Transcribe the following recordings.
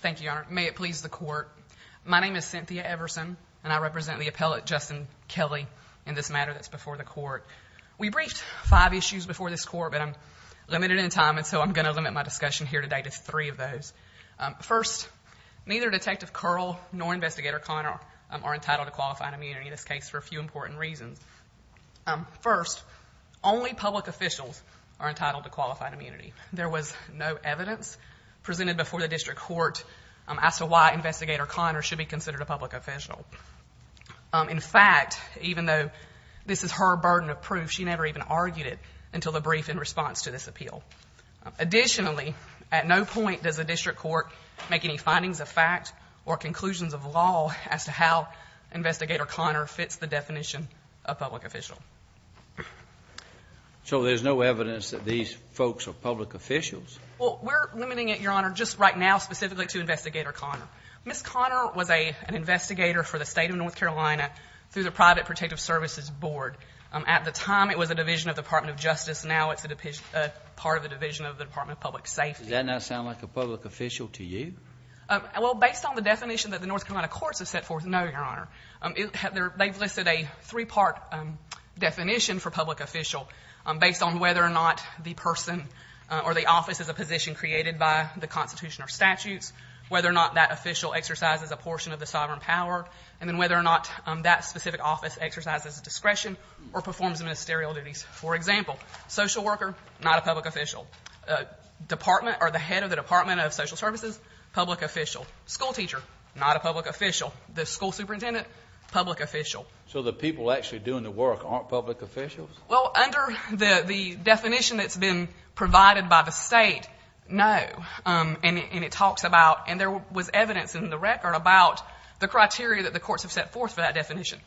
Thank you, Your Honor. May it please the court. My name is Cynthia Everson and I represent the appellate Justin Kelly in this matter that's before the court. We briefed five issues before this court but I'm limited in time and so I'm gonna limit my discussion here today to three of those. First, neither Detective Curl nor Investigator Conner are entitled to qualified immunity in this case for a few important reasons. First, only public officials are entitled to qualified immunity in this case. Second, the District Court asked why Investigator Conner should be considered a public official. In fact, even though this is her burden of proof, she never even argued it until the brief in response to this appeal. Additionally, at no point does the District Court make any findings of fact or conclusions of law as to how Investigator Conner fits the definition of public official. So there's no evidence that these folks are public officials? Well, we're limiting it, Your Honor, just right now specifically to Investigator Conner. Ms. Conner was a an investigator for the State of North Carolina through the Private Protective Services Board. At the time it was a division of the Department of Justice. Now it's a part of the division of the Department of Public Safety. Does that now sound like a public official to you? Well, based on the definition that the North Carolina courts have set forth, no, Your Honor. They've listed a three-part definition for public official based on whether or not the person or the office is a position created by the Constitution or statutes, whether or not that official exercises a portion of the sovereign power, and then whether or not that specific office exercises discretion or performs ministerial duties. For example, social worker, not a public official. Department or the head of the Department of Social Services, public official. School teacher, not a public official. The school superintendent, public official. So the people actually doing the work aren't public officials? Well, under the definition provided by the State, no. And it talks about, and there was evidence in the record about the criteria that the courts have set forth for that definition.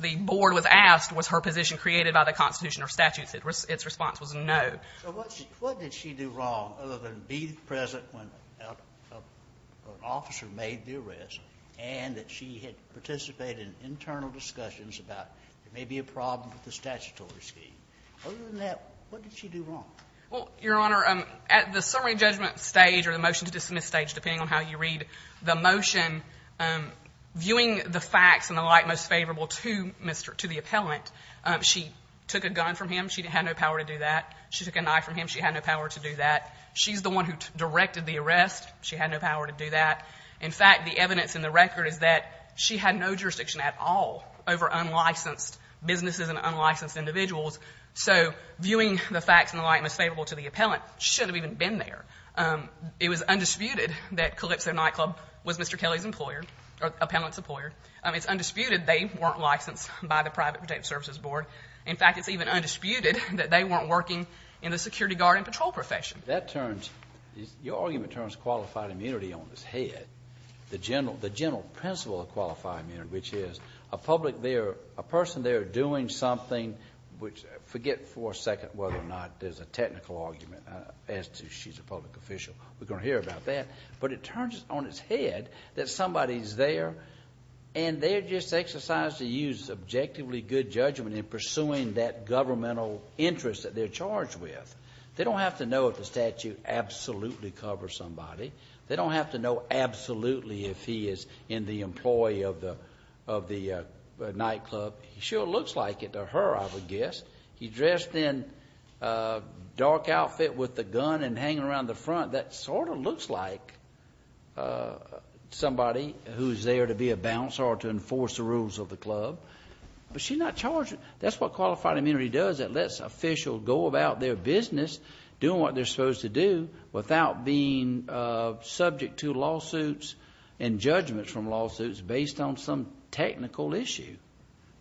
The board was asked was her position created by the Constitution or statutes. Its response was no. So what did she do wrong other than be present when an officer made the arrest and that she had participated in internal discussions about there may be a problem with the statutory scheme? Other than that, what did she do wrong? Well, Your Honor, at the summary judgment stage or the motion to dismiss stage, depending on how you read the motion, viewing the facts and the like most favorable to Mr. — to the appellant, she took a gun from him. She had no power to do that. She took a knife from him. She had no power to do that. She's the one who directed the arrest. She had no power to do that. In fact, the evidence in the record is that she had no jurisdiction at all over unlicensed businesses and unlicensed individuals. So viewing the facts and the like most favorable to the appellant shouldn't have even been there. It was undisputed that Calypso Nightclub was Mr. Kelly's employer, or the appellant's employer. It's undisputed they weren't licensed by the Private Protective Services Board. In fact, it's even undisputed that they weren't working in the security guard and patrol profession. That turns — your argument turns qualified immunity on its head. The general principle of qualified immunity, which is a public there, a person there doing something — forget for a second whether or not there's a technical argument as to she's a public official. We're going to hear about that. But it turns on its head that somebody's there and they're just exercised to use objectively good judgment in pursuing that governmental interest that they're charged with. They don't have to know if the statute absolutely covers somebody. They don't have to know absolutely if he is in the employee of the nightclub. He sure looks like it to her, I would guess. He's dressed in a dark outfit with a gun and hanging around the front. That sort of looks like somebody who's there to be a bouncer or to enforce the rules of the club. But she's not charged. That's what qualified immunity does. It lets officials go about their business doing what they're subject to lawsuits and judgments from lawsuits based on some technical issue.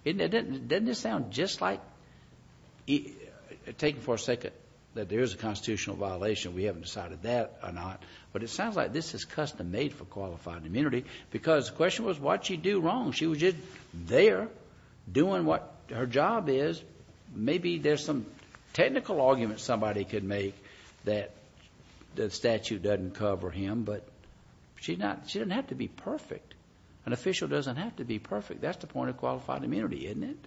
Doesn't this sound just like — take it for a second that there is a constitutional violation. We haven't decided that or not. But it sounds like this is custom-made for qualified immunity because the question was what she do wrong. She was just there doing what her job is. Maybe there's some technical argument somebody could make that the statute doesn't cover him, but she doesn't have to be perfect. An official doesn't have to be perfect. That's the point of qualified immunity, isn't it?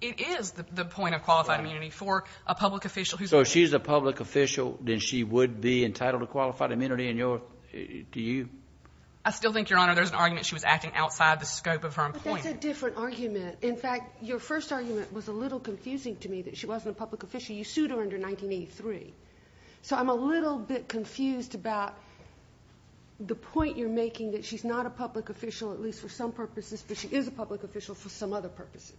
It is the point of qualified immunity for a public official who's — So if she's a public official, then she would be entitled to qualified immunity in your — to you? I still think, Your Honor, there's an argument she was acting outside the scope of her employment. But that's a different argument. In fact, your first argument was a little confusing to me that she wasn't a public official. You sued her under 1983. So I'm a little bit confused about the point you're making that she's not a public official, at least for some purposes, but she is a public official for some other purposes.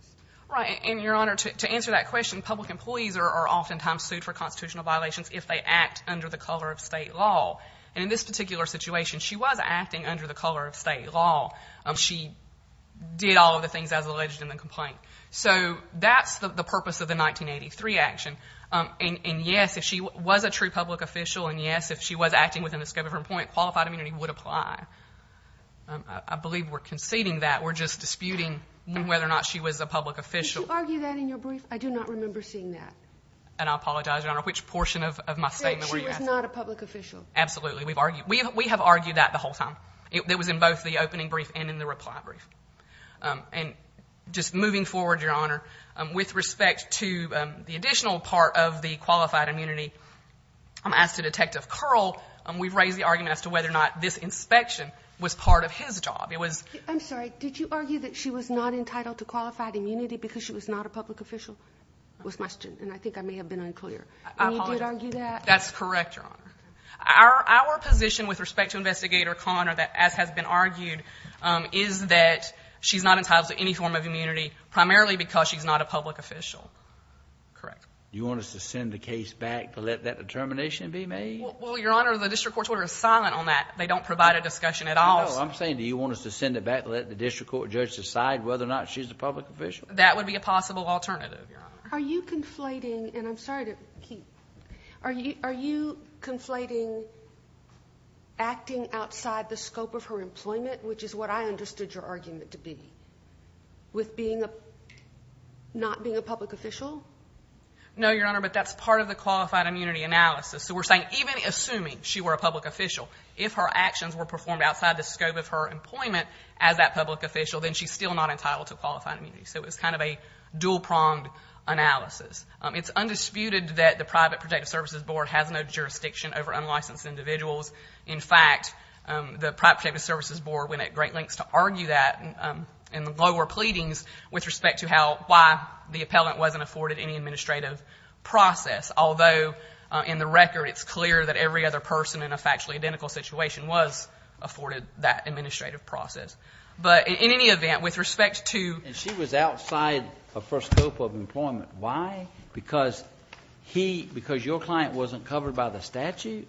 Right. And, Your Honor, to answer that question, public employees are oftentimes sued for constitutional violations if they act under the color of state law. And in this particular situation, she was acting under the color of state law. She did all of the things as alleged in the purpose of the 1983 action. And yes, if she was a true public official, and yes, if she was acting within the scope of her employment, qualified immunity would apply. I believe we're conceding that. We're just disputing whether or not she was a public official. Did you argue that in your brief? I do not remember seeing that. And I apologize, Your Honor. Which portion of my statement were you asking? That she was not a public official. Absolutely. We've argued — we have argued that the whole time. It was in both the opening brief and in the reply brief. And just moving forward, Your Honor, with respect to the additional part of the qualified immunity, as to Detective Curl, we've raised the argument as to whether or not this inspection was part of his job. It was — I'm sorry. Did you argue that she was not entitled to qualified immunity because she was not a public official? Was my — and I think I may have been unclear. I apologize. And you did argue that? That's correct, Your Honor. Our position with respect to Investigator Connor that, as has been argued, is that she's not entitled to any form of immunity, primarily because she's not a public official. Correct. You want us to send the case back to let that determination be made? Well, Your Honor, the district court's order is silent on that. They don't provide a discussion at all. No, I'm saying, do you want us to send it back to let the district court judge decide whether or not she's a public official? That would be a possible alternative, Your Honor. Are you conflating — and I'm sorry to keep — are you conflating acting outside the scope of her employment, which is what I understood your argument to be, with being a — not being a public official? No, Your Honor, but that's part of the qualified immunity analysis. So we're saying even assuming she were a public official, if her actions were performed outside the scope of her employment as that public official, then she's still not entitled to qualified immunity. So it's kind of a dual-pronged analysis. It's undisputed that the Private Protective Services Board has no jurisdiction over unlicensed individuals. In fact, the Private Protective Services Board went at great lengths to argue that in the lower pleadings with respect to how — why the appellant wasn't afforded any administrative process. Although, in the record, it's clear that every other person in a factually identical situation was afforded that administrative process. But in any event, with respect to — And she was outside of her scope of employment. Why? Because he — because your client wasn't covered by the statute?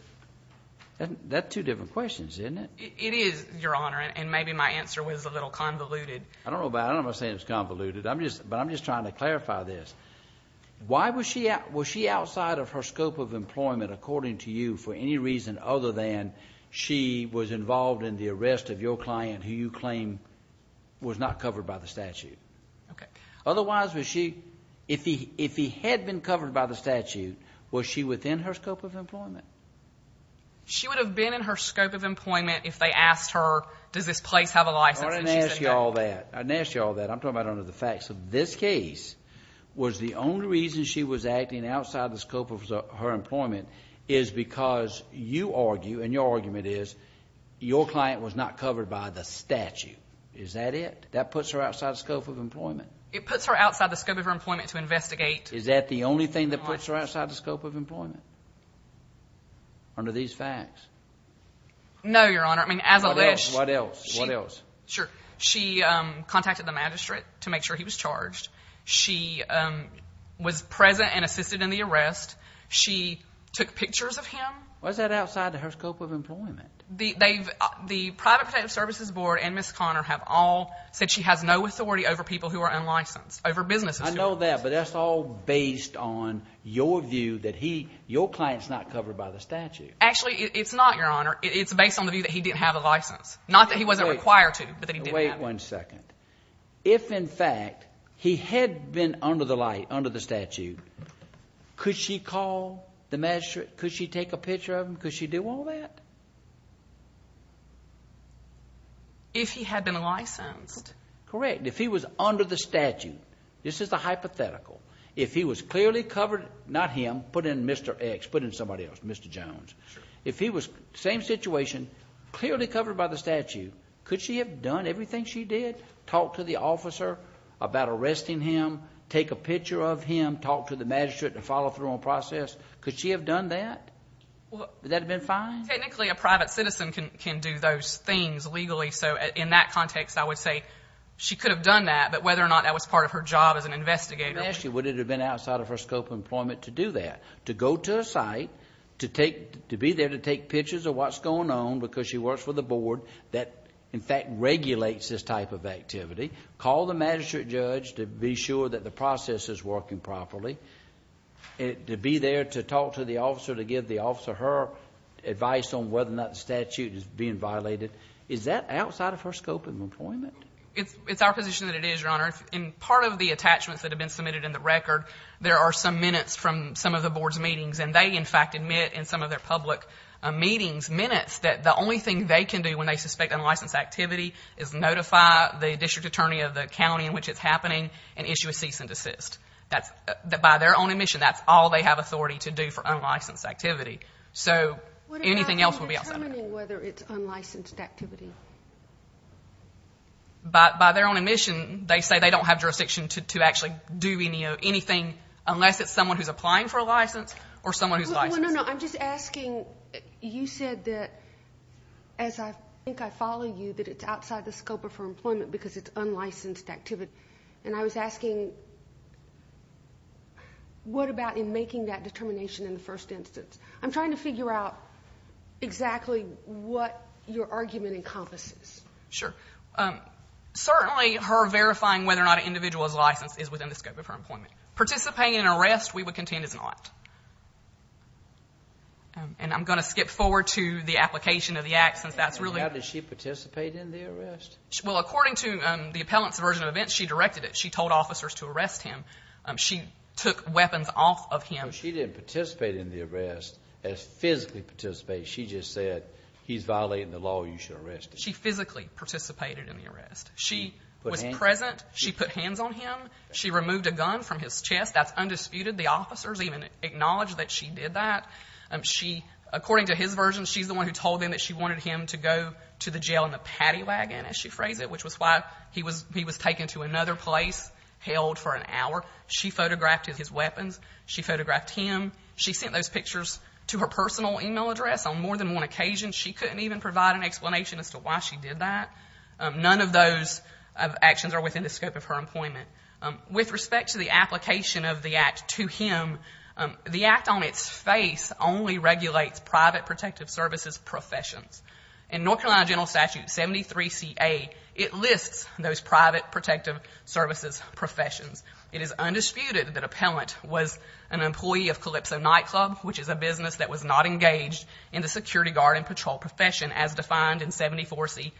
That's two different questions, isn't it? It is, Your Honor. And maybe my answer was a little convoluted. I don't know about — I don't know if I'm saying it's convoluted. I'm just — but I'm just trying to clarify this. Why was she — was she outside of her scope of employment, according to you, for any reason other than she was involved in the arrest of your client who you claim was not covered by the statute? Okay. Otherwise, was she — if he had been covered by the statute, was she within her scope of employment? She would have been in her scope of employment if they asked her, does this place have a license and she said no. I didn't ask you all that. I didn't ask you all that. I'm talking about under the facts of this case. Was the only reason she was acting outside the scope of her employment is because you argue, and your argument is, your client was not covered by the statute. Is that it? That puts her outside the scope of employment? It puts her outside the scope of her employment to investigate. Is that the only thing that puts her outside the scope of employment, under these facts? No, Your Honor. I mean, as a — What else? What else? What else? Sure. She contacted the magistrate to make sure he was charged. She was present and assisted in the arrest. She took pictures of him. Was that outside of her scope of employment? The private protective services board and Ms. Conner have all said she has no authority over people who are unlicensed, over businesses. I know that, but that's all based on your view that he — your client's not covered by the statute. Actually, it's not, Your Honor. It's based on the view that he didn't have a license. Not that he wasn't required to, but that he didn't have a license. Wait one second. If, in fact, he had been under the light, under the statute, could she call the magistrate? Could she take a picture of him? Could she do all that? If he had been licensed. Correct. If he was under the statute, this is the hypothetical. If he was clearly covered — not him, put in Mr. X, put in somebody else, Mr. Jones. If he was — same situation, clearly covered by the statute, could she have done everything she did? Talk to the officer about arresting him, take a picture of him, talk to the magistrate and follow through on the process. Could she have done that? Would that have been fine? Technically, a private citizen can do those things legally. So, in that context, I would say she could have done that, but whether or not that was part of her job as an investigator — Actually, would it have been outside of her scope of employment to do that? To go to a site, to take — to be there to take pictures of what's going on because she works for the board that, in fact, regulates this type of activity, call the magistrate judge to be sure that the process is working properly, to be there to talk to the officer to give the officer her advice on whether or not the statute is being violated, is that outside of her scope of employment? It's our position that it is, Your Honor. In part of the attachments that have been submitted in the record, there are some minutes from some of the board's meetings, and they, in fact, admit in some of their public meetings minutes that the only thing they can do when they suspect unlicensed activity is notify the district attorney of the county in which it's happening and issue a cease and desist. By their own admission, that's all they have authority to do for unlicensed activity. So anything else would be outside of that. What about determining whether it's unlicensed activity? By their own admission, they say they don't have jurisdiction to actually do anything unless it's someone who's applying for a license or someone who's licensed. No, no, no. I'm just asking, you said that, as I think I follow you, that it's outside the scope of her employment because it's unlicensed activity. And I was asking, what about in making that determination in the first instance? I'm trying to figure out exactly what your argument encompasses. Sure. Certainly, her verifying whether or not an individual is licensed is within the scope of her employment. Participating in an arrest, we would contend, is not. And I'm going to skip forward to the application of the act, since that's really How did she participate in the arrest? Well, according to the appellant's version of events, she directed it. She told officers to arrest him. She took weapons off of him. She didn't participate in the arrest as physically participate. She just said, he's violating the law. You should arrest him. She physically participated in the arrest. She was present. She put hands on him. She removed a gun from his chest. That's undisputed. The officers even acknowledged that she did that. She, according to his version, she's the one who told them that she wanted him to go to the jail in the paddy wagon, as she phrased it, which was why he was taken to another place, held for an hour. She photographed his weapons. She photographed him. She sent those pictures to her personal e-mail address on more than one occasion. She couldn't even provide an explanation as to why she did that. None of those actions are within the scope of her employment. With respect to the application of the act to him, the act on its face only regulates private protective services professions. In North Carolina General Statute 73CA, it lists those private protective services professions. It is undisputed that appellant was an employee of Calypso Nightclub, which is a business that was not engaged in the security guard and patrol profession, as defined in 74C3A.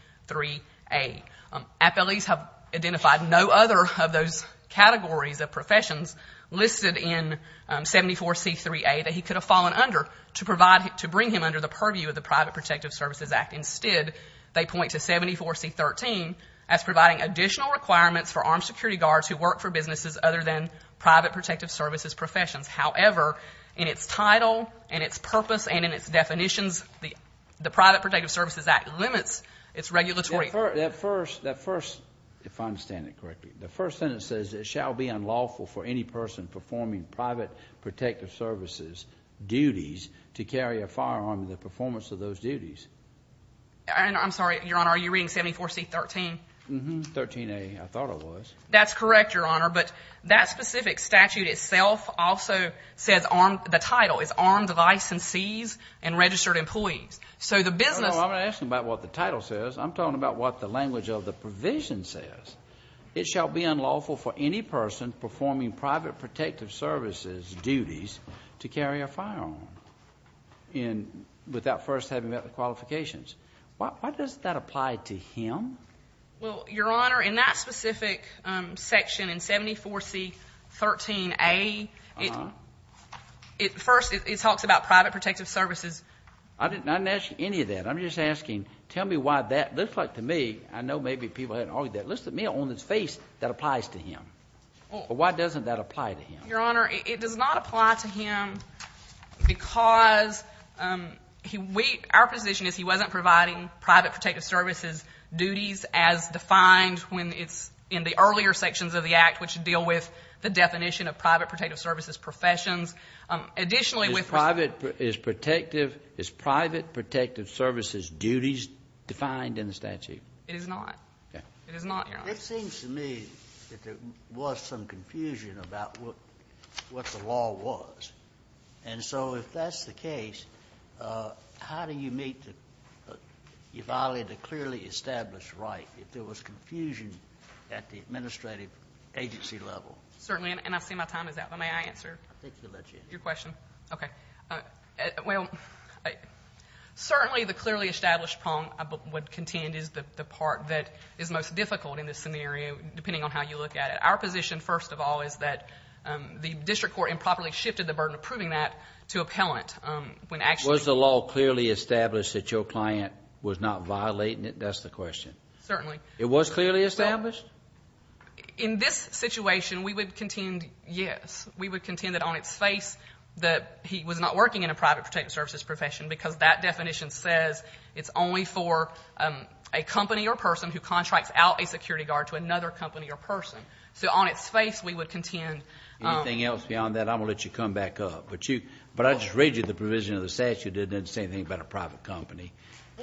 Appellees have identified no other of those categories of professions listed in 74C3A that he could have fallen under to bring him under the purview of the Private Protective Services Act. Instead, they point to 74C13 as providing additional requirements for armed security guards who work for businesses other than private protective services professions. However, in its title and its purpose and in its definitions, the Private Protective Services Act limits its regulatory. That first, if I understand it correctly, the first sentence says it shall be unlawful for any person performing private protective services duties to carry a firearm in the performance of those duties. I'm sorry, Your Honor, are you reading 74C13? 13A, I thought I was. That's correct, Your Honor, but that specific statute itself also says armed, the title is armed licensees and registered employees. So the business No, no, I'm not asking about what the title says. I'm talking about what the language of the provision says. It shall be unlawful for any person performing private protective services duties to carry a firearm without first having met the qualifications. Why does that apply to him? Well, Your Honor, in that specific section in 74C13A, it first it talks about private protective services. I didn't ask you any of that. I'm just asking, tell me why that looks like to me, I know maybe people hadn't heard that, looks to me on his face that applies to him. Why doesn't that apply to him? Your Honor, it does not apply to him because our position is he wasn't providing private protective services duties as defined when it's in the earlier sections of the Act which deal with the definition of private protective services professions. Additionally with Is private protective services duties defined in the statute? It is not. It is not, Your Honor. It seems to me that there was some confusion about what the law was. And so if that's the case, how do you meet the, you violated a clearly established right if there was confusion at the administrative agency level? Certainly, and I see my time is up, but may I answer your question? Okay. Well, certainly the clearly established problem I would contend is the part that is most difficult in this scenario, depending on how you look at it. Our position, first of all, is that the district court improperly shifted the burden of proving that to appellant when actually Was the law clearly established that your client was not violating it? That's the question. Certainly. It was clearly established? In this situation, we would contend yes. We would contend that on its face that he was not working in a private protective services profession because that definition says it's only for a company or person who contracts out a security guard to another company or person. So on its face, we would contend Anything else beyond that, I'm going to let you come back up. But I just read you the provision of the statute that didn't say anything about a private company.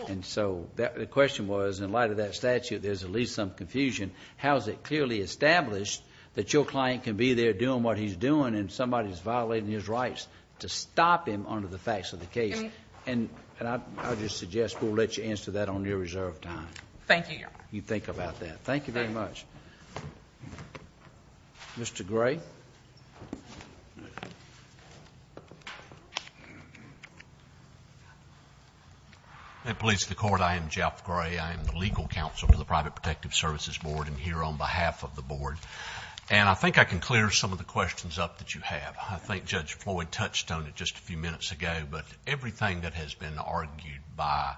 And so the question was in light of that statute, there's at least some confusion. How is it clearly established that your client can be there doing what he's doing and somebody is violating his rights to stop him under the facts of the case? And I would just suggest we'll let you answer that on your reserve time. Thank you, Your Honor. You think about that. Thank you very much. Mr. Gray? May it please the Court, I am Jeff Gray. I am the legal counsel to the Private Protective Services Board and here on behalf of the Board. And I think I can clear some of the questions up that you have. I think Judge Floyd touched on it just a few minutes ago, but everything that has been argued by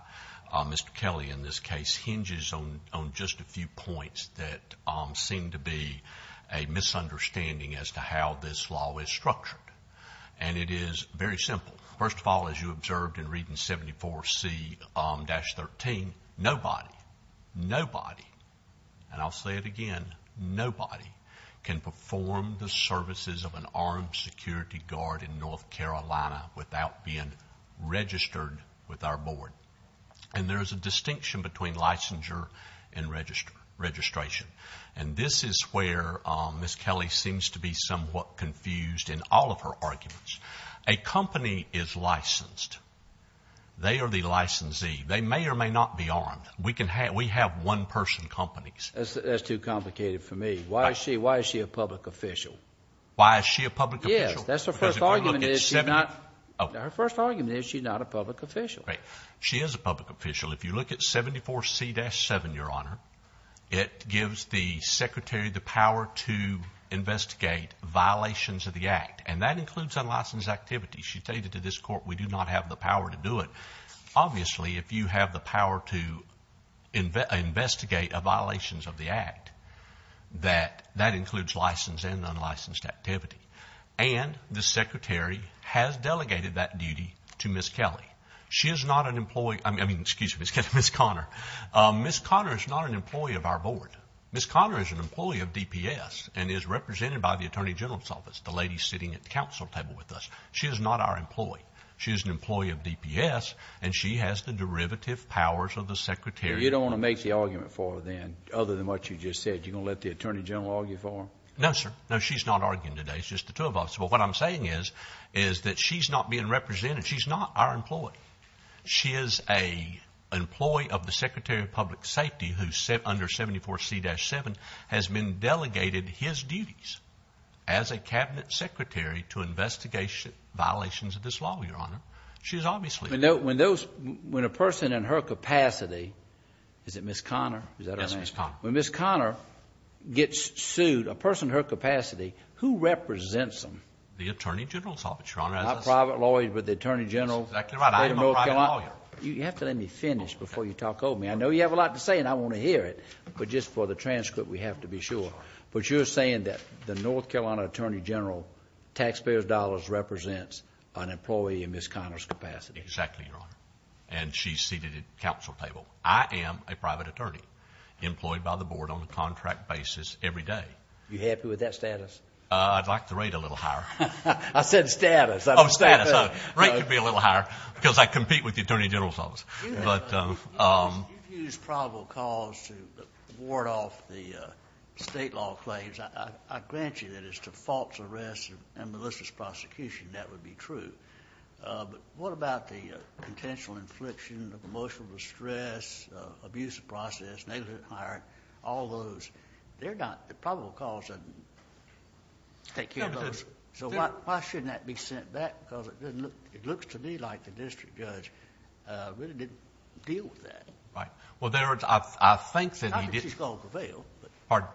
Mr. Kelly in this case hinges on just a few points that seem to be a misunderstanding as to how this law is structured. And it is very simple. First of all, as you observed in reading 74C-13, nobody, nobody, and I'll say it again, nobody can perform the services of an armed security guard in North Carolina without being registered with our Board. And there is a distinction between licensure and registration. And this is where Ms. Kelly seems to be somewhat confused in all of her arguments. A company is licensed. They are the licensee. They may or may not be armed. We have one-person companies. That's too complicated for me. Why is she a public official? Why is she a public official? Yes, that's her first argument is she's not a public official. She is a public official. If you look at 74C-7, Your Honor, it gives the Secretary the power to investigate violations of the Act. And that includes unlicensed activities. She stated to this Court, we do not have the power to do it. Obviously, if you have the power to investigate violations of the Act, that includes licensed and unlicensed activity. And the Secretary has delegated that duty to Ms. Kelly. She is not an employee, excuse me, Ms. Connor, Ms. Connor is not an employee of our Board. Ms. Connor is an employee of DPS and is represented by the Attorney General's Office, the lady sitting at the council table with us. She is not our employee. She is an employee of DPS, and she has the derivative powers of the Secretary. So you don't want to make the argument for her then, other than what you just said, you're going to let the Attorney General argue for her? No, sir. No, she's not arguing today. It's just the two of us. But what I'm saying is that she's not being represented. She's not our employee. She is an employee of the Secretary of Public Safety, who under 74C-7 has been delegated his duties as a Cabinet Secretary to investigate violations of this law, Your Honor. She's obviously... When a person in her capacity, is it Ms. Connor? Yes, Ms. Connor. When Ms. Connor gets sued, a person in her capacity, who represents them? The Attorney General's Office, Your Honor. Not a private lawyer, but the Attorney General? That's exactly right. I am a private lawyer. You have to let me finish before you talk over me. I know you have a lot to say and I want to hear it, but just for the transcript we have to be sure. But you're saying that the North Carolina Attorney General taxpayer's dollars represents an employee in Ms. Connor's position? Exactly, Your Honor. And she's seated at the council table. I am a private attorney employed by the board on a contract basis every day. Are you happy with that status? I'd like the rate a little higher. I said status. Oh, status. The rate could be a little higher, because I compete with the Attorney General's Office. You've used probable cause to ward off the state law claims. I grant you that it's to the effect of a false arrest and malicious prosecution, that would be true. But what about the potential infliction of emotional distress, abuse of process, negligent hiring, all those? They're not the probable cause. So why shouldn't that be sent back? Because it looks to me like the district judge really didn't deal with that. Right. Well, in other words, I think that he didn't... Pardon?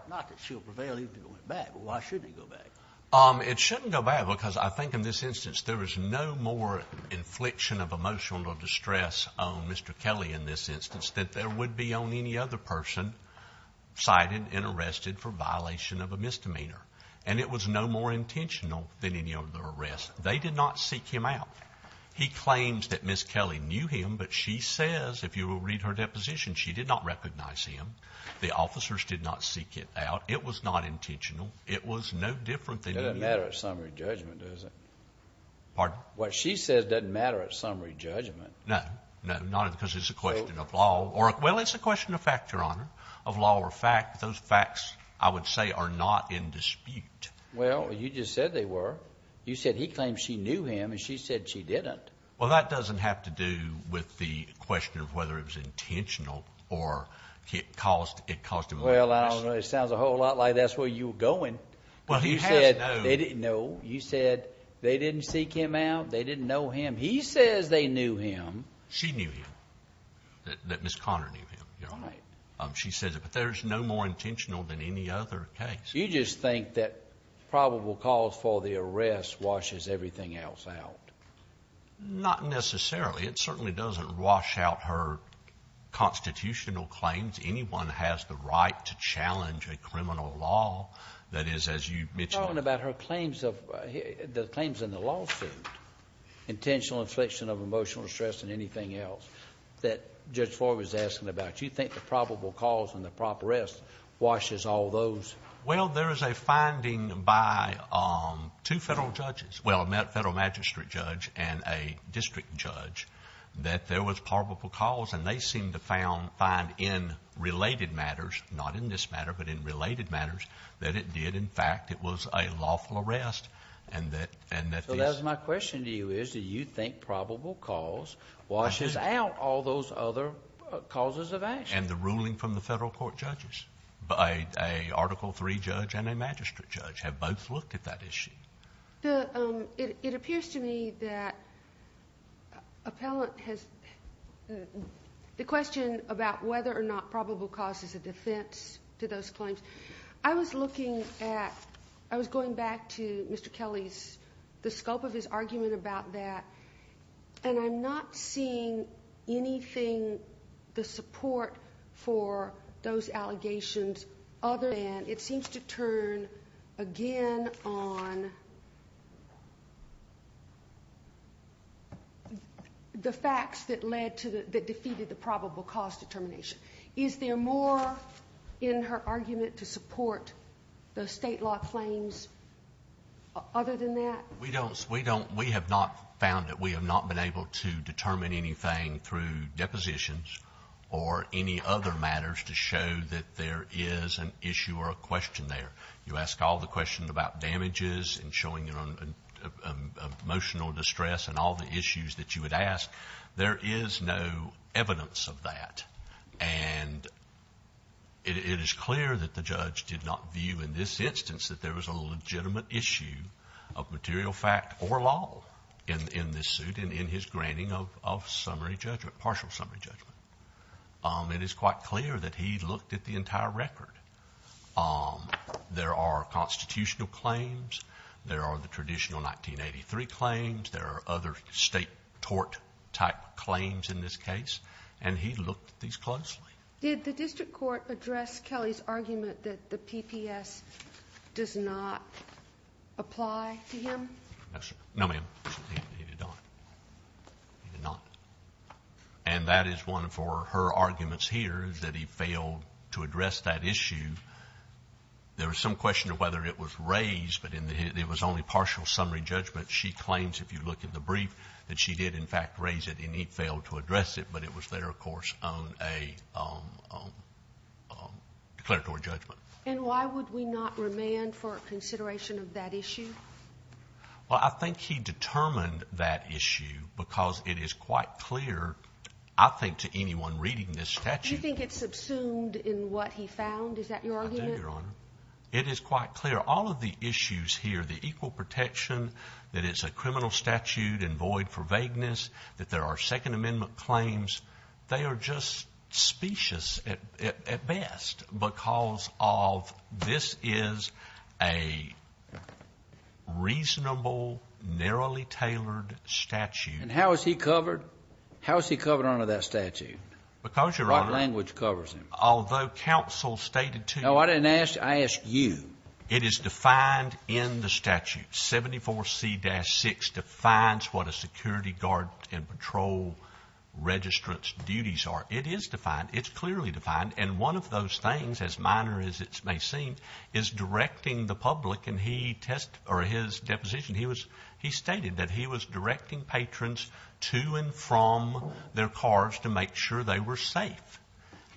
It shouldn't go back, because I think in this instance, there was no more infliction of emotional distress on Mr. Kelly in this instance than there would be on any other person cited and arrested for violation of a misdemeanor. And it was no more intentional than any other arrest. They did not seek him out. He claims that Ms. Kelly knew him, but she says, if you will read her deposition, she did not recognize him. The officers did not seek it out. It was not intentional. It was no different than... It doesn't matter at summary judgment, does it? Pardon? What she says doesn't matter at summary judgment. No, no, not at... because it's a question of law or... well, it's a question of fact, Your Honor, of law or fact. Those facts, I would say, are not in dispute. Well, you just said they were. You said he claims she knew him, and she said she didn't. Well, that doesn't have to do with the question of whether it was intentional or it caused emotional... Well, I don't know. It sounds a whole lot like that's where you were going. But you said... Well, he has no... No. You said they didn't seek him out. They didn't know him. He says they knew him. She knew him, that Ms. Conner knew him, Your Honor. Right. She says it. But there's no more intentional than any other case. You just think that probable cause for the arrest washes everything else out. Not necessarily. It certainly doesn't wash out her constitutional claims. Anyone has the right to challenge a criminal law that is, as you mentioned... You're talking about her claims of... the claims in the lawsuit, intentional infliction of emotional distress and anything else that Judge Floyd was asking about. You think the probable cause and the prop arrest washes all those... Well, there is a finding by two federal judges, well, a federal magistrate judge and a district judge, that there was probable cause, and they seemed to find in related matters, not in this matter, but in related matters, that it did, in fact, it was a lawful arrest and that... So that's my question to you is, do you think probable cause washes out all those other causes of action? And the ruling from the federal court judges. A Article III judge and a magistrate judge have both looked at that issue. It appears to me that appellant has... The question about whether or not probable cause is a defense to those claims. I was looking at... I was going back to Mr. Kelly's... The scope of his argument about that, and I'm not seeing anything... The facts that led to the... that defeated the probable cause determination. Is there more in her argument to support the state law claims other than that? We don't... We have not found it. We have not been able to determine anything through depositions or any other matters to show that there is an issue or a question there. You ask all the questions about damages and showing emotional distress and all the issues that you would ask. There is no evidence of that. And it is clear that the judge did not view in this instance that there was a legitimate issue of material fact or law in this suit and in his granting of summary judgment, partial summary judgment. It is quite clear that he looked at the entire record. There are constitutional claims. There are the traditional 1983 claims. There are other state tort type claims in this case. And he looked at these closely. Did the district court address Kelly's argument that the PPS does not apply to him? No, ma'am. He did not. He did not. And that is one for her arguments here is that he failed to address that issue. There was some question of whether it was raised, but it was only partial summary judgment. She claims, if you look at the brief, that she did, in fact, raise it and he failed to address it. But it was there, of course, on a declaratory judgment. And why would we not remand for consideration of that issue? Well, I think he determined that issue because it is quite clear, I think, to anyone reading this statute. Do you think it's subsumed in what he found? Is that your argument? I do, Your Honor. It is quite clear. All of the issues here, the equal protection, that it's a criminal statute and void for vagueness, that there are Second Amendment claims, they are just specious at best because of this is a reasonable, narrowly tailored statute. And how is he covered? How is he covered under that statute? Because, Your Honor. What language covers him? Although counsel stated to you. No, I didn't ask. I asked you. It is defined in the statute. 74C-6 defines what a security guard and patrol registrant's duties are. It is defined. It's clearly defined. And one of those things, as minor as it may seem, is directing the public. In his deposition, he stated that he was directing patrons to and from their cars to make sure they were safe.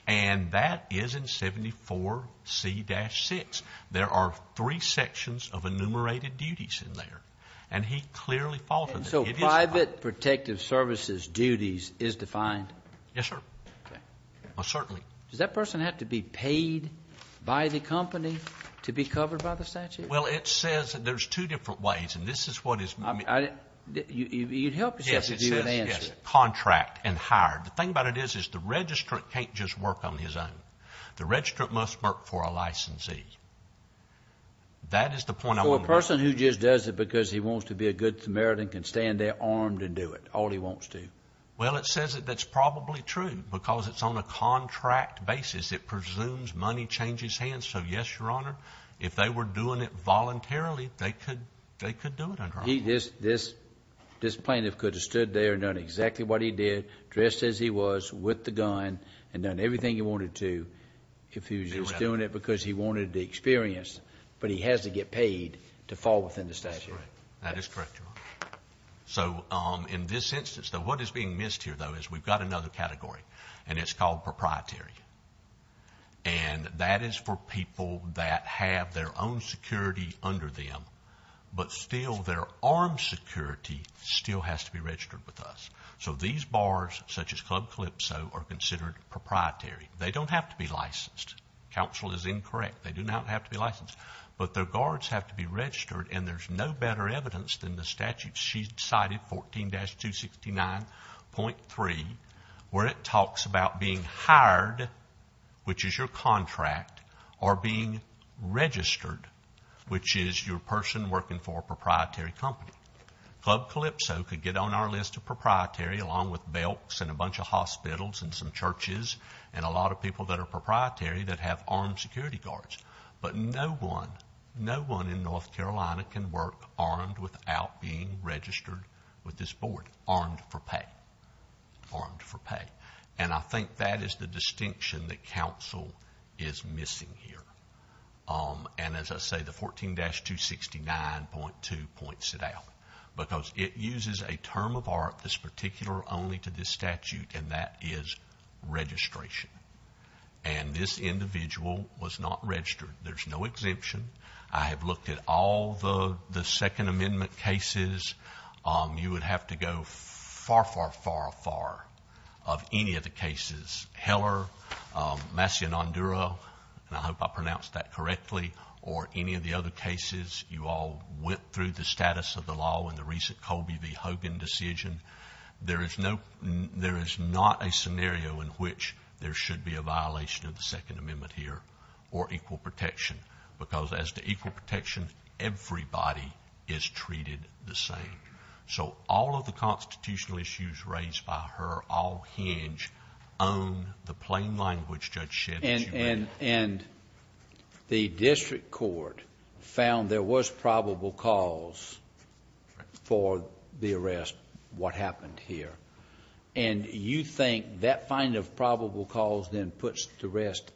And that is in 74C-6. There are three sections of enumerated duties in there. And he clearly followed it. And so private protective services duties is defined? Yes, sir. Okay. Well, certainly. Does that person have to be paid by the company to be covered by the statute? Well, it says there's two different ways. And this is what is. I didn't. You'd help yourself to do an answer. Yes, it says contract and hired. The thing about it is the registrant can't just work on his own. The registrant must work for a licensee. That is the point I want to make. So a person who just does it because he wants to be a good Samaritan can stay in there armed and do it all he wants to? Well, it says that that's probably true because it's on a contract basis. It presumes money changes hands. So, yes, Your Honor, if they were doing it voluntarily, they could do it, Your Honor. This plaintiff could have stood there and done exactly what he did, dressed as he was, with the gun, and done everything he wanted to if he was just doing it because he wanted the experience. But he has to get paid to fall within the statute. That is correct, Your Honor. So in this instance, what is being missed here, though, is we've got another category, and it's called proprietary. And that is for people that have their own security under them, but still their armed security still has to be registered with us. So these bars, such as Club Calypso, are considered proprietary. They don't have to be licensed. Counsel is incorrect. They do not have to be licensed. But their guards have to be registered, and there's no better evidence than the statute. She cited 14-269.3, where it talks about being hired, which is your contract, or being registered, which is your person working for a proprietary company. Club Calypso could get on our list of proprietary, along with Belks and a bunch of hospitals and some churches and a lot of people that are proprietary that have armed security guards. But no one, no one in North Carolina can work armed without being registered with this board, armed for pay, armed for pay. And I think that is the distinction that counsel is missing here. And as I say, the 14-269.2 points it out, because it uses a term of art that's particular only to this statute, and that is registration. And this individual was not registered. There's no exemption. I have looked at all the Second Amendment cases. You would have to go far, far, far, far of any of the cases. Heller, Macinandura, and I hope I pronounced that correctly, or any of the other cases, you all went through the status of the law in the recent Colby v. Hogan decision. There is no, there is not a scenario in which there should be a violation of the Second Amendment here or equal protection, because as to equal protection, everybody is treated the same. So all of the constitutional issues raised by her, all hinge on the plain language Judge Shed that she made. And the district court found there was probable cause for the arrest, what happened here. And you think that finding of probable cause then puts to rest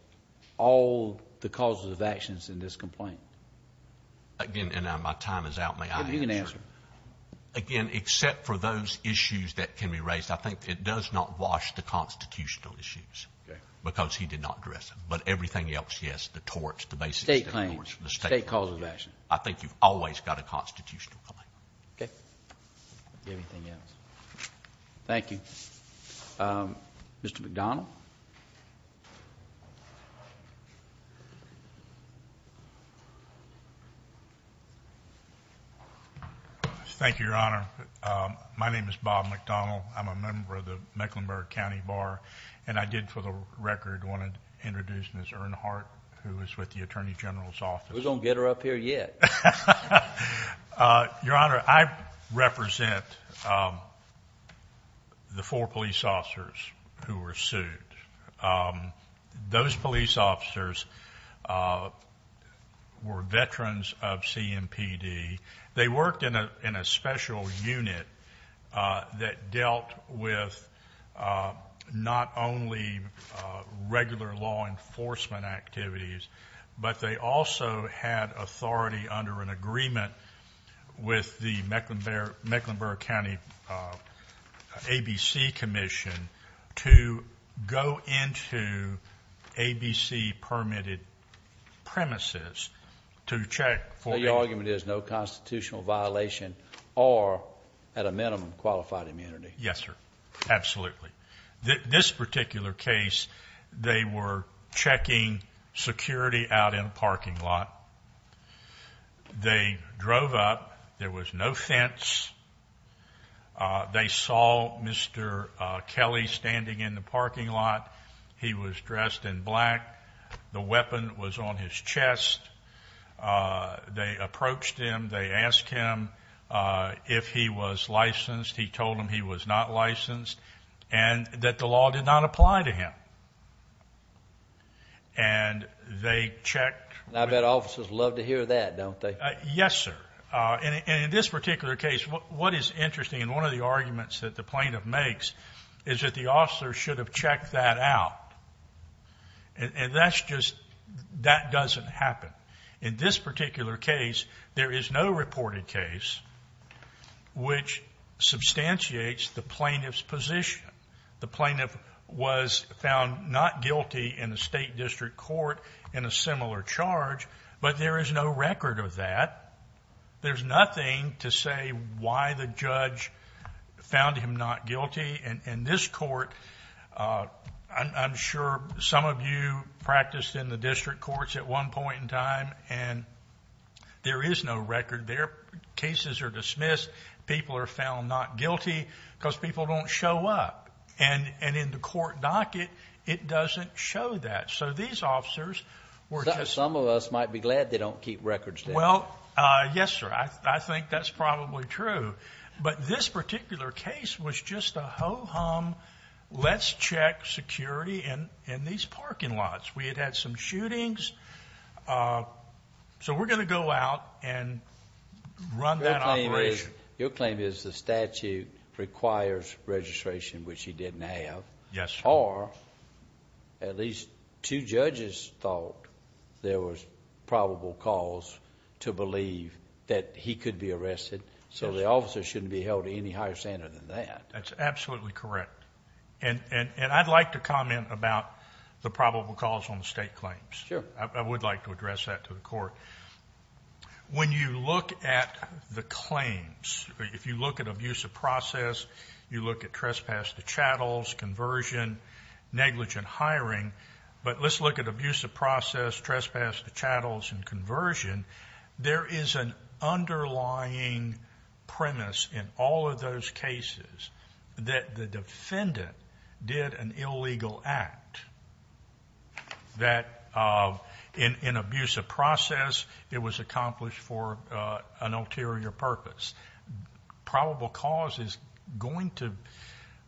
all the causes of actions in this complaint? Again, and my time is out, may I answer? Again, except for those issues that can be raised, I think it does not wash the constitutional issues. Okay. Because he did not address them. But everything else, yes, the torts, the basics. State claims. The state claims. State causes of action. I think you've always got a constitutional claim. Okay. Anything else? Thank you. Mr. McDonnell. Thank you, Your Honor. My name is Bob McDonnell. I'm a member of the Mecklenburg County Bar. And I did, for the record, want to introduce Ms. Earnhardt, who is with the Attorney General's Office. We're going to get her up here yet. Your Honor, I represent the four police officers who were sued. Those police officers were veterans of CMPD. They worked in a special unit that dealt with not only regular law enforcement activities, but they also had authority under an agreement with the Mecklenburg County ABC Commission to go into ABC-permitted premises to check for- So your argument is no constitutional violation or, at a minimum, qualified immunity. Yes, sir. Absolutely. This particular case, they were checking security out in a parking lot. They drove up. There was no fence. They saw Mr. Kelly standing in the parking lot. He was dressed in black. The weapon was on his chest. They approached him. They asked him if he was licensed. He told them he was not licensed. And that the law did not apply to him. And they checked- I bet officers love to hear that, don't they? Yes, sir. And in this particular case, what is interesting in one of the arguments that the plaintiff makes is that the officer should have checked that out. And that's just- that doesn't happen. In this particular case, there is no reported case which substantiates the plaintiff's position. The plaintiff was found not guilty in a state district court in a similar charge, but there is no record of that. There's nothing to say why the judge found him not guilty. In this court, I'm sure some of you practiced in the district courts at one point in time and there is no record there. Cases are dismissed. People are found not guilty because people don't show up. And in the court docket, it doesn't show that. So these officers were just- Some of us might be glad they don't keep records there. Well, yes, sir. I think that's probably true. But this particular case was just a ho-hum, let's check security in these parking lots. We had had some shootings. So we're going to go out and run that operation. Your claim is the statute requires registration, which he didn't have. Yes, sir. Or at least two judges thought there was probable cause to believe that he could be arrested. So the officer shouldn't be held to any higher standard than that. That's absolutely correct. And I'd like to comment about the probable cause on the state claims. Sure. I would like to address that to the court. When you look at the claims, if you look at abuse of process, you look at trespass to chattels, conversion, negligent hiring. But let's look at abuse of process, trespass to chattels, and conversion. There is an underlying premise in all of those cases that the defendant did an illegal act that in abuse of process, it was accomplished for an ulterior purpose. Probable cause is going to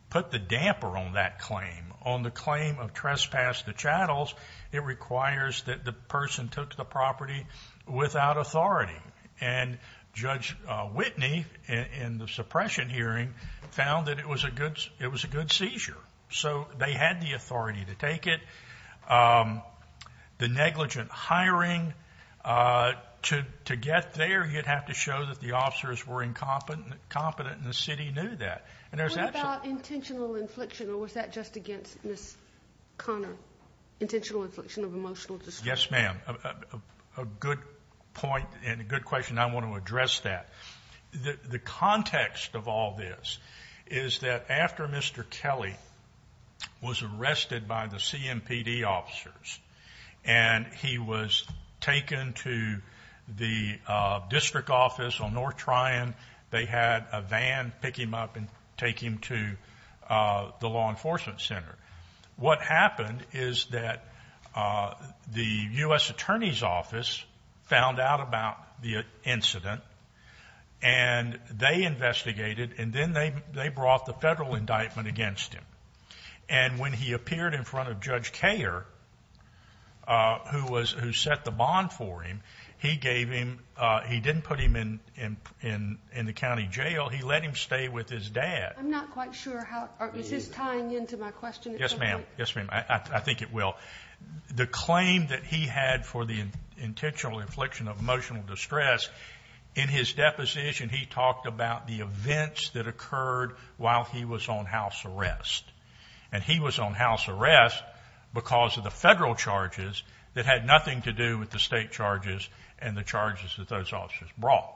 put the damper on that claim. On the claim of trespass to chattels, it requires that the person took the property without authority. And Judge Whitney, in the suppression hearing, found that it was a good seizure. So they had the authority to take it. The negligent hiring, to get there, you'd have to show that the officers were incompetent and the city knew that. What about intentional infliction? Was that just against Ms. Connor? Intentional infliction of emotional distress? Yes, ma'am. A good point and a good question. I want to address that. The context of all this is that after Mr. Kelly was arrested by the CMPD officers and he was taken to the district office on North Tryon, they had a van pick him up and take him to the law enforcement center. What happened is that the U.S. Attorney's Office found out about the incident and they investigated and then they brought the federal indictment against him. And when he appeared in front of Judge Kayer, who set the bond for him, he didn't put him in the county jail. He let him stay with his dad. I'm not quite sure. Is this tying into my question? Yes, ma'am. Yes, ma'am. I think it will. The claim that he had for the intentional infliction of emotional distress, in his deposition he talked about the events that occurred while he was on house arrest. And he was on house arrest because of the federal charges that had nothing to do with the state charges and the charges that those officers brought.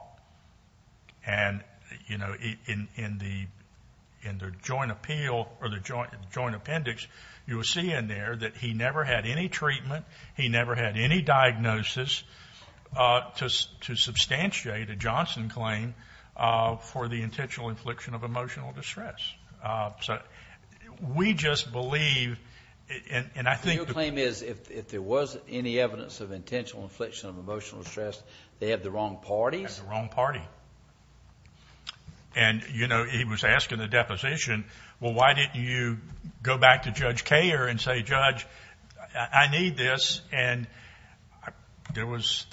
And, you know, in the joint appeal or the joint appendix, you will see in there that he never had any treatment, he never had any diagnosis to substantiate a Johnson claim for the intentional infliction of emotional distress. So we just believe, and I think- If there was any evidence of intentional infliction of emotional distress, they had the wrong parties? They had the wrong party. And, you know, he was asking the deposition, well, why didn't you go back to Judge Kayer and say, Judge, I need this? And the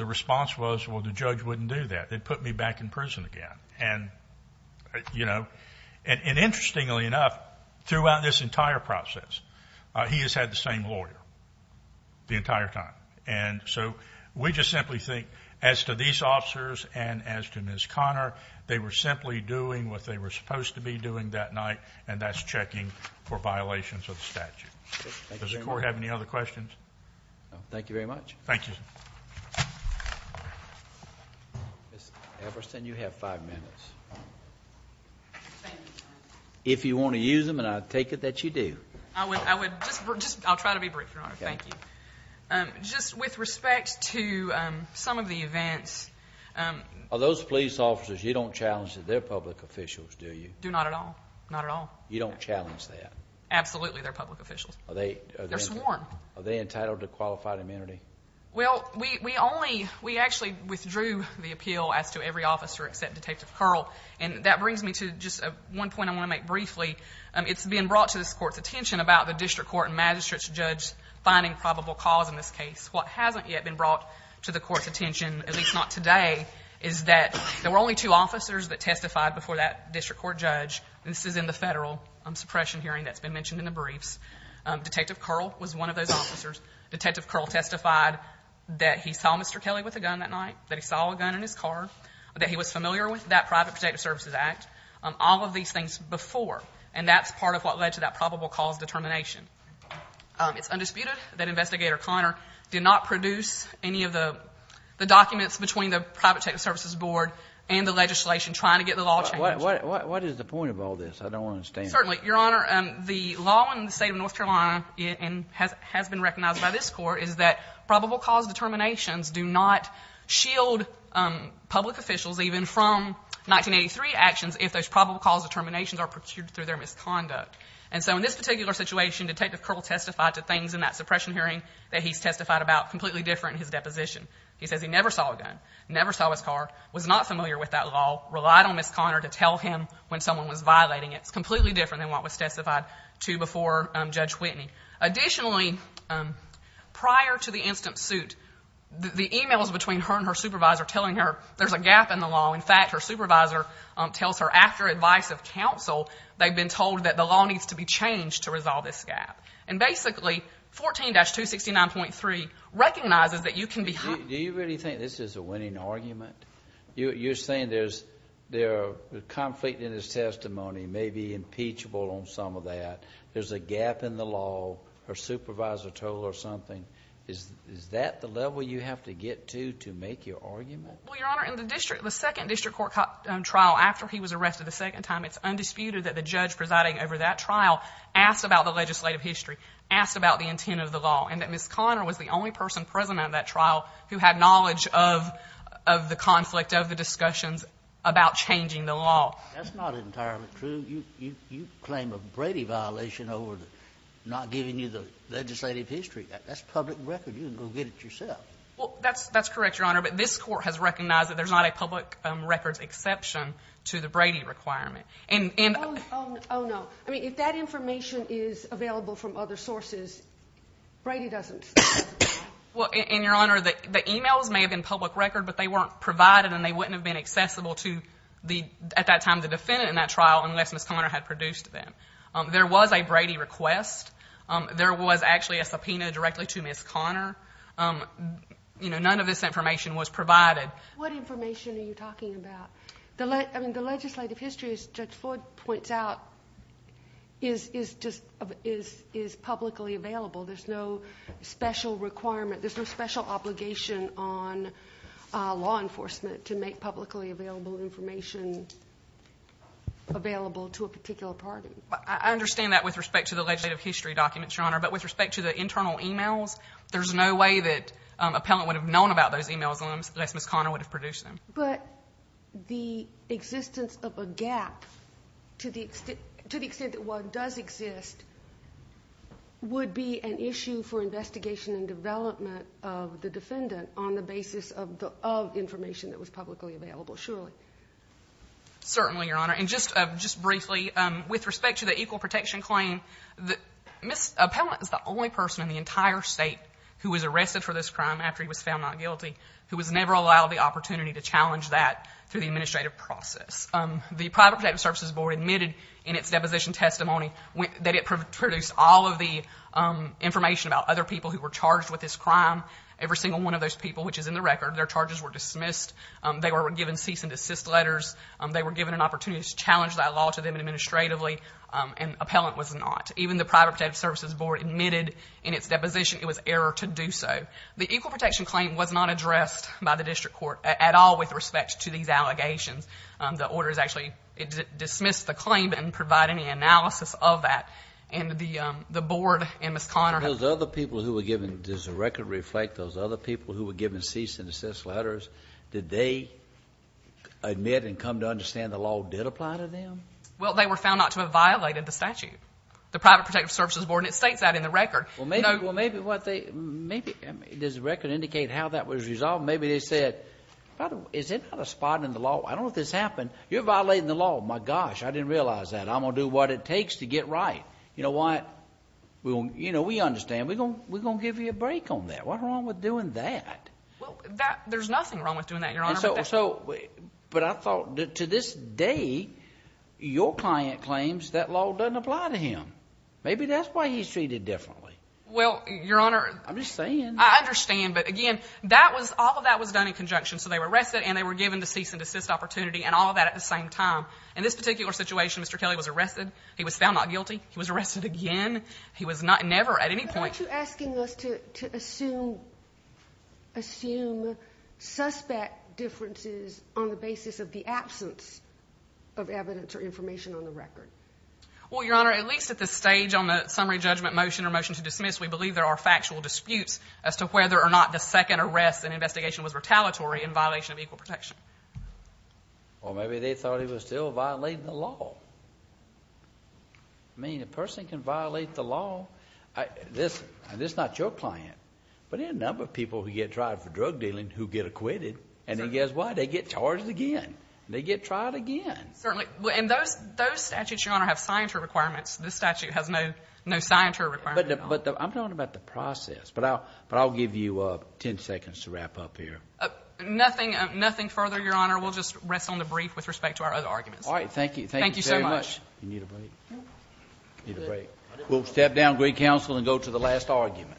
response was, well, the judge wouldn't do that. They'd put me back in prison again. And, you know, and interestingly enough, throughout this entire process, he has had the same lawyer the entire time. And so we just simply think, as to these officers and as to Ms. Conner, they were simply doing what they were supposed to be doing that night, and that's checking for violations of the statute. Does the court have any other questions? No, thank you very much. Thank you. Ms. Everson, you have five minutes. If you want to use them, and I take it that you do. I'll try to be brief, Your Honor. Thank you. Just with respect to some of the events. Are those police officers, you don't challenge that they're public officials, do you? Do not at all. Not at all. You don't challenge that? Absolutely, they're public officials. They're sworn. Are they entitled to qualified amenity? Well, we actually withdrew the appeal as to every officer except Detective Curl. And that brings me to just one point I want to make briefly. It's been brought to this Court's attention about the district court and magistrate's judge finding probable cause in this case. What hasn't yet been brought to the Court's attention, at least not today, is that there were only two officers that testified before that district court judge. This is in the federal suppression hearing that's been mentioned in the briefs. Detective Curl was one of those officers. Detective Curl testified that he saw Mr. Kelly with a gun that night, that he saw a gun in his car, that he was familiar with that Private Protective Services Act. All of these things before. And that's part of what led to that probable cause determination. It's undisputed that Investigator Conner did not produce any of the documents between the Private Protective Services Board and the legislation trying to get the law changed. What is the point of all this? I don't understand. Certainly, Your Honor. The law in the state of North Carolina has been recognized by this Court is that probable cause determinations do not shield public officials even from 1983 actions if those probable cause determinations are procured through their misconduct. And so in this particular situation, Detective Curl testified to things in that suppression hearing that he's testified about completely different in his deposition. He says he never saw a gun, never saw his car, was not familiar with that law, relied on Ms. Conner to tell him when someone was violating it. It's completely different than what was testified to before Judge Whitney. Additionally, prior to the instant suit, the emails between her and her supervisor telling her there's a gap in the law. In fact, her supervisor tells her after advice of counsel they've been told that the law needs to be changed to resolve this gap. And basically, 14-269.3 recognizes that you can be... Do you really think this is a winning argument? You're saying there's conflict in his testimony, maybe impeachable on some of that, there's a gap in the law, her supervisor told her something. Is that the level you have to get to to make your argument? Well, Your Honor, in the second district court trial after he was arrested the second time, it's undisputed that the judge presiding over that trial asked about the legislative history, asked about the intent of the law, and that Ms. Conner was the only person present at that trial who had knowledge of the conflict, of the discussions about changing the law. That's not entirely true. You claim a Brady violation over not giving you the legislative history. That's public record. You can go get it yourself. Well, that's correct, Your Honor, but this court has recognized that there's not a public records exception to the Brady requirement. Oh, no. I mean, if that information is available from other sources, Brady doesn't. And, Your Honor, the emails may have been public record, but they weren't provided and they wouldn't have been accessible to, at that time, the defendant in that trial unless Ms. Conner had produced them. There was a Brady request. There was actually a subpoena directly to Ms. Conner. You know, none of this information was provided. What information are you talking about? I mean, the legislative history, as Judge Floyd points out, is publicly available. There's no special requirement, there's no special obligation on law enforcement to make publicly available information available to a particular party. I understand that with respect to the legislative history documents, Your Honor, but with respect to the internal emails, there's no way that appellant would have known about those emails unless Ms. Conner would have produced them. But the existence of a gap to the extent that one does exist would be an issue for investigation and development of the defendant on the basis of information that was publicly available, surely. Certainly, Your Honor. And just briefly, with respect to the equal protection claim, Ms. Appellant is the only person in the entire state who was arrested for this crime after he was found not guilty who was never allowed the opportunity to challenge that through the administrative process. The Private Protective Services Board admitted in its deposition testimony that it produced all of the information about other people who were charged with this crime. Every single one of those people, which is in the record, their charges were dismissed. They were given cease and desist letters. They were given an opportunity to challenge that law to them administratively, and Appellant was not. Even the Private Protective Services Board admitted in its deposition it was error to do so. The equal protection claim was not addressed by the district court at all with respect to these allegations. The orders actually dismissed the claim and provide any analysis of that. And the board and Ms. Conner... And those other people who were given... Does the record reflect those other people who were given cease and desist letters? Did they admit and come to understand the law did apply to them? Well, they were found not to have violated the statute. The Private Protective Services Board, and it states that in the record. Well, maybe what they... Maybe... Does the record indicate how that was resolved? Maybe they said, is it not a spot in the law? I don't know if this happened. You're violating the law. My gosh, I didn't realize that. I'm going to do what it takes to get right. You know what? You know, we understand. We're going to give you a break on that. What's wrong with doing that? Well, that... There's nothing wrong with doing that, Your Honor. So... But I thought, to this day, your client claims that law doesn't apply to him. Maybe that's why he's treated differently. Well, Your Honor... I'm just saying. I understand. But again, that was... All of that was done in conjunction. So they were arrested and they were given the cease and desist opportunity and all of that at the same time. In this particular situation, Mr. Kelly was arrested. He was found not guilty. He was arrested again. He was not... Never at any point... Why aren't you asking us to assume... What are the differences on the basis of the absence of evidence or information on the record? Well, Your Honor, at least at this stage on the summary judgment motion or motion to dismiss, we believe there are factual disputes as to whether or not the second arrest and investigation was retaliatory in violation of equal protection. Or maybe they thought he was still violating the law. I mean, a person can violate the law. who get acquitted. And he gets acquitted and he gets acquitted and he gets acquitted and he gets acquitted and he gets acquitted and he gets acquitted and he gets acquitted And if he says why, they get charged again. They get tried again. And those statutes, Your Honor, have citor requirements. This statute has no citor requirements. But I'm talking about the process but I'll give you 10 seconds to wrap up here. Nothing, nothing further, Your Honor. We'll just rest on the brief with respect to our other argument. Alright. Thank you. Thank you so much. You need a break? We'll step down of great counsel and go to the last argument.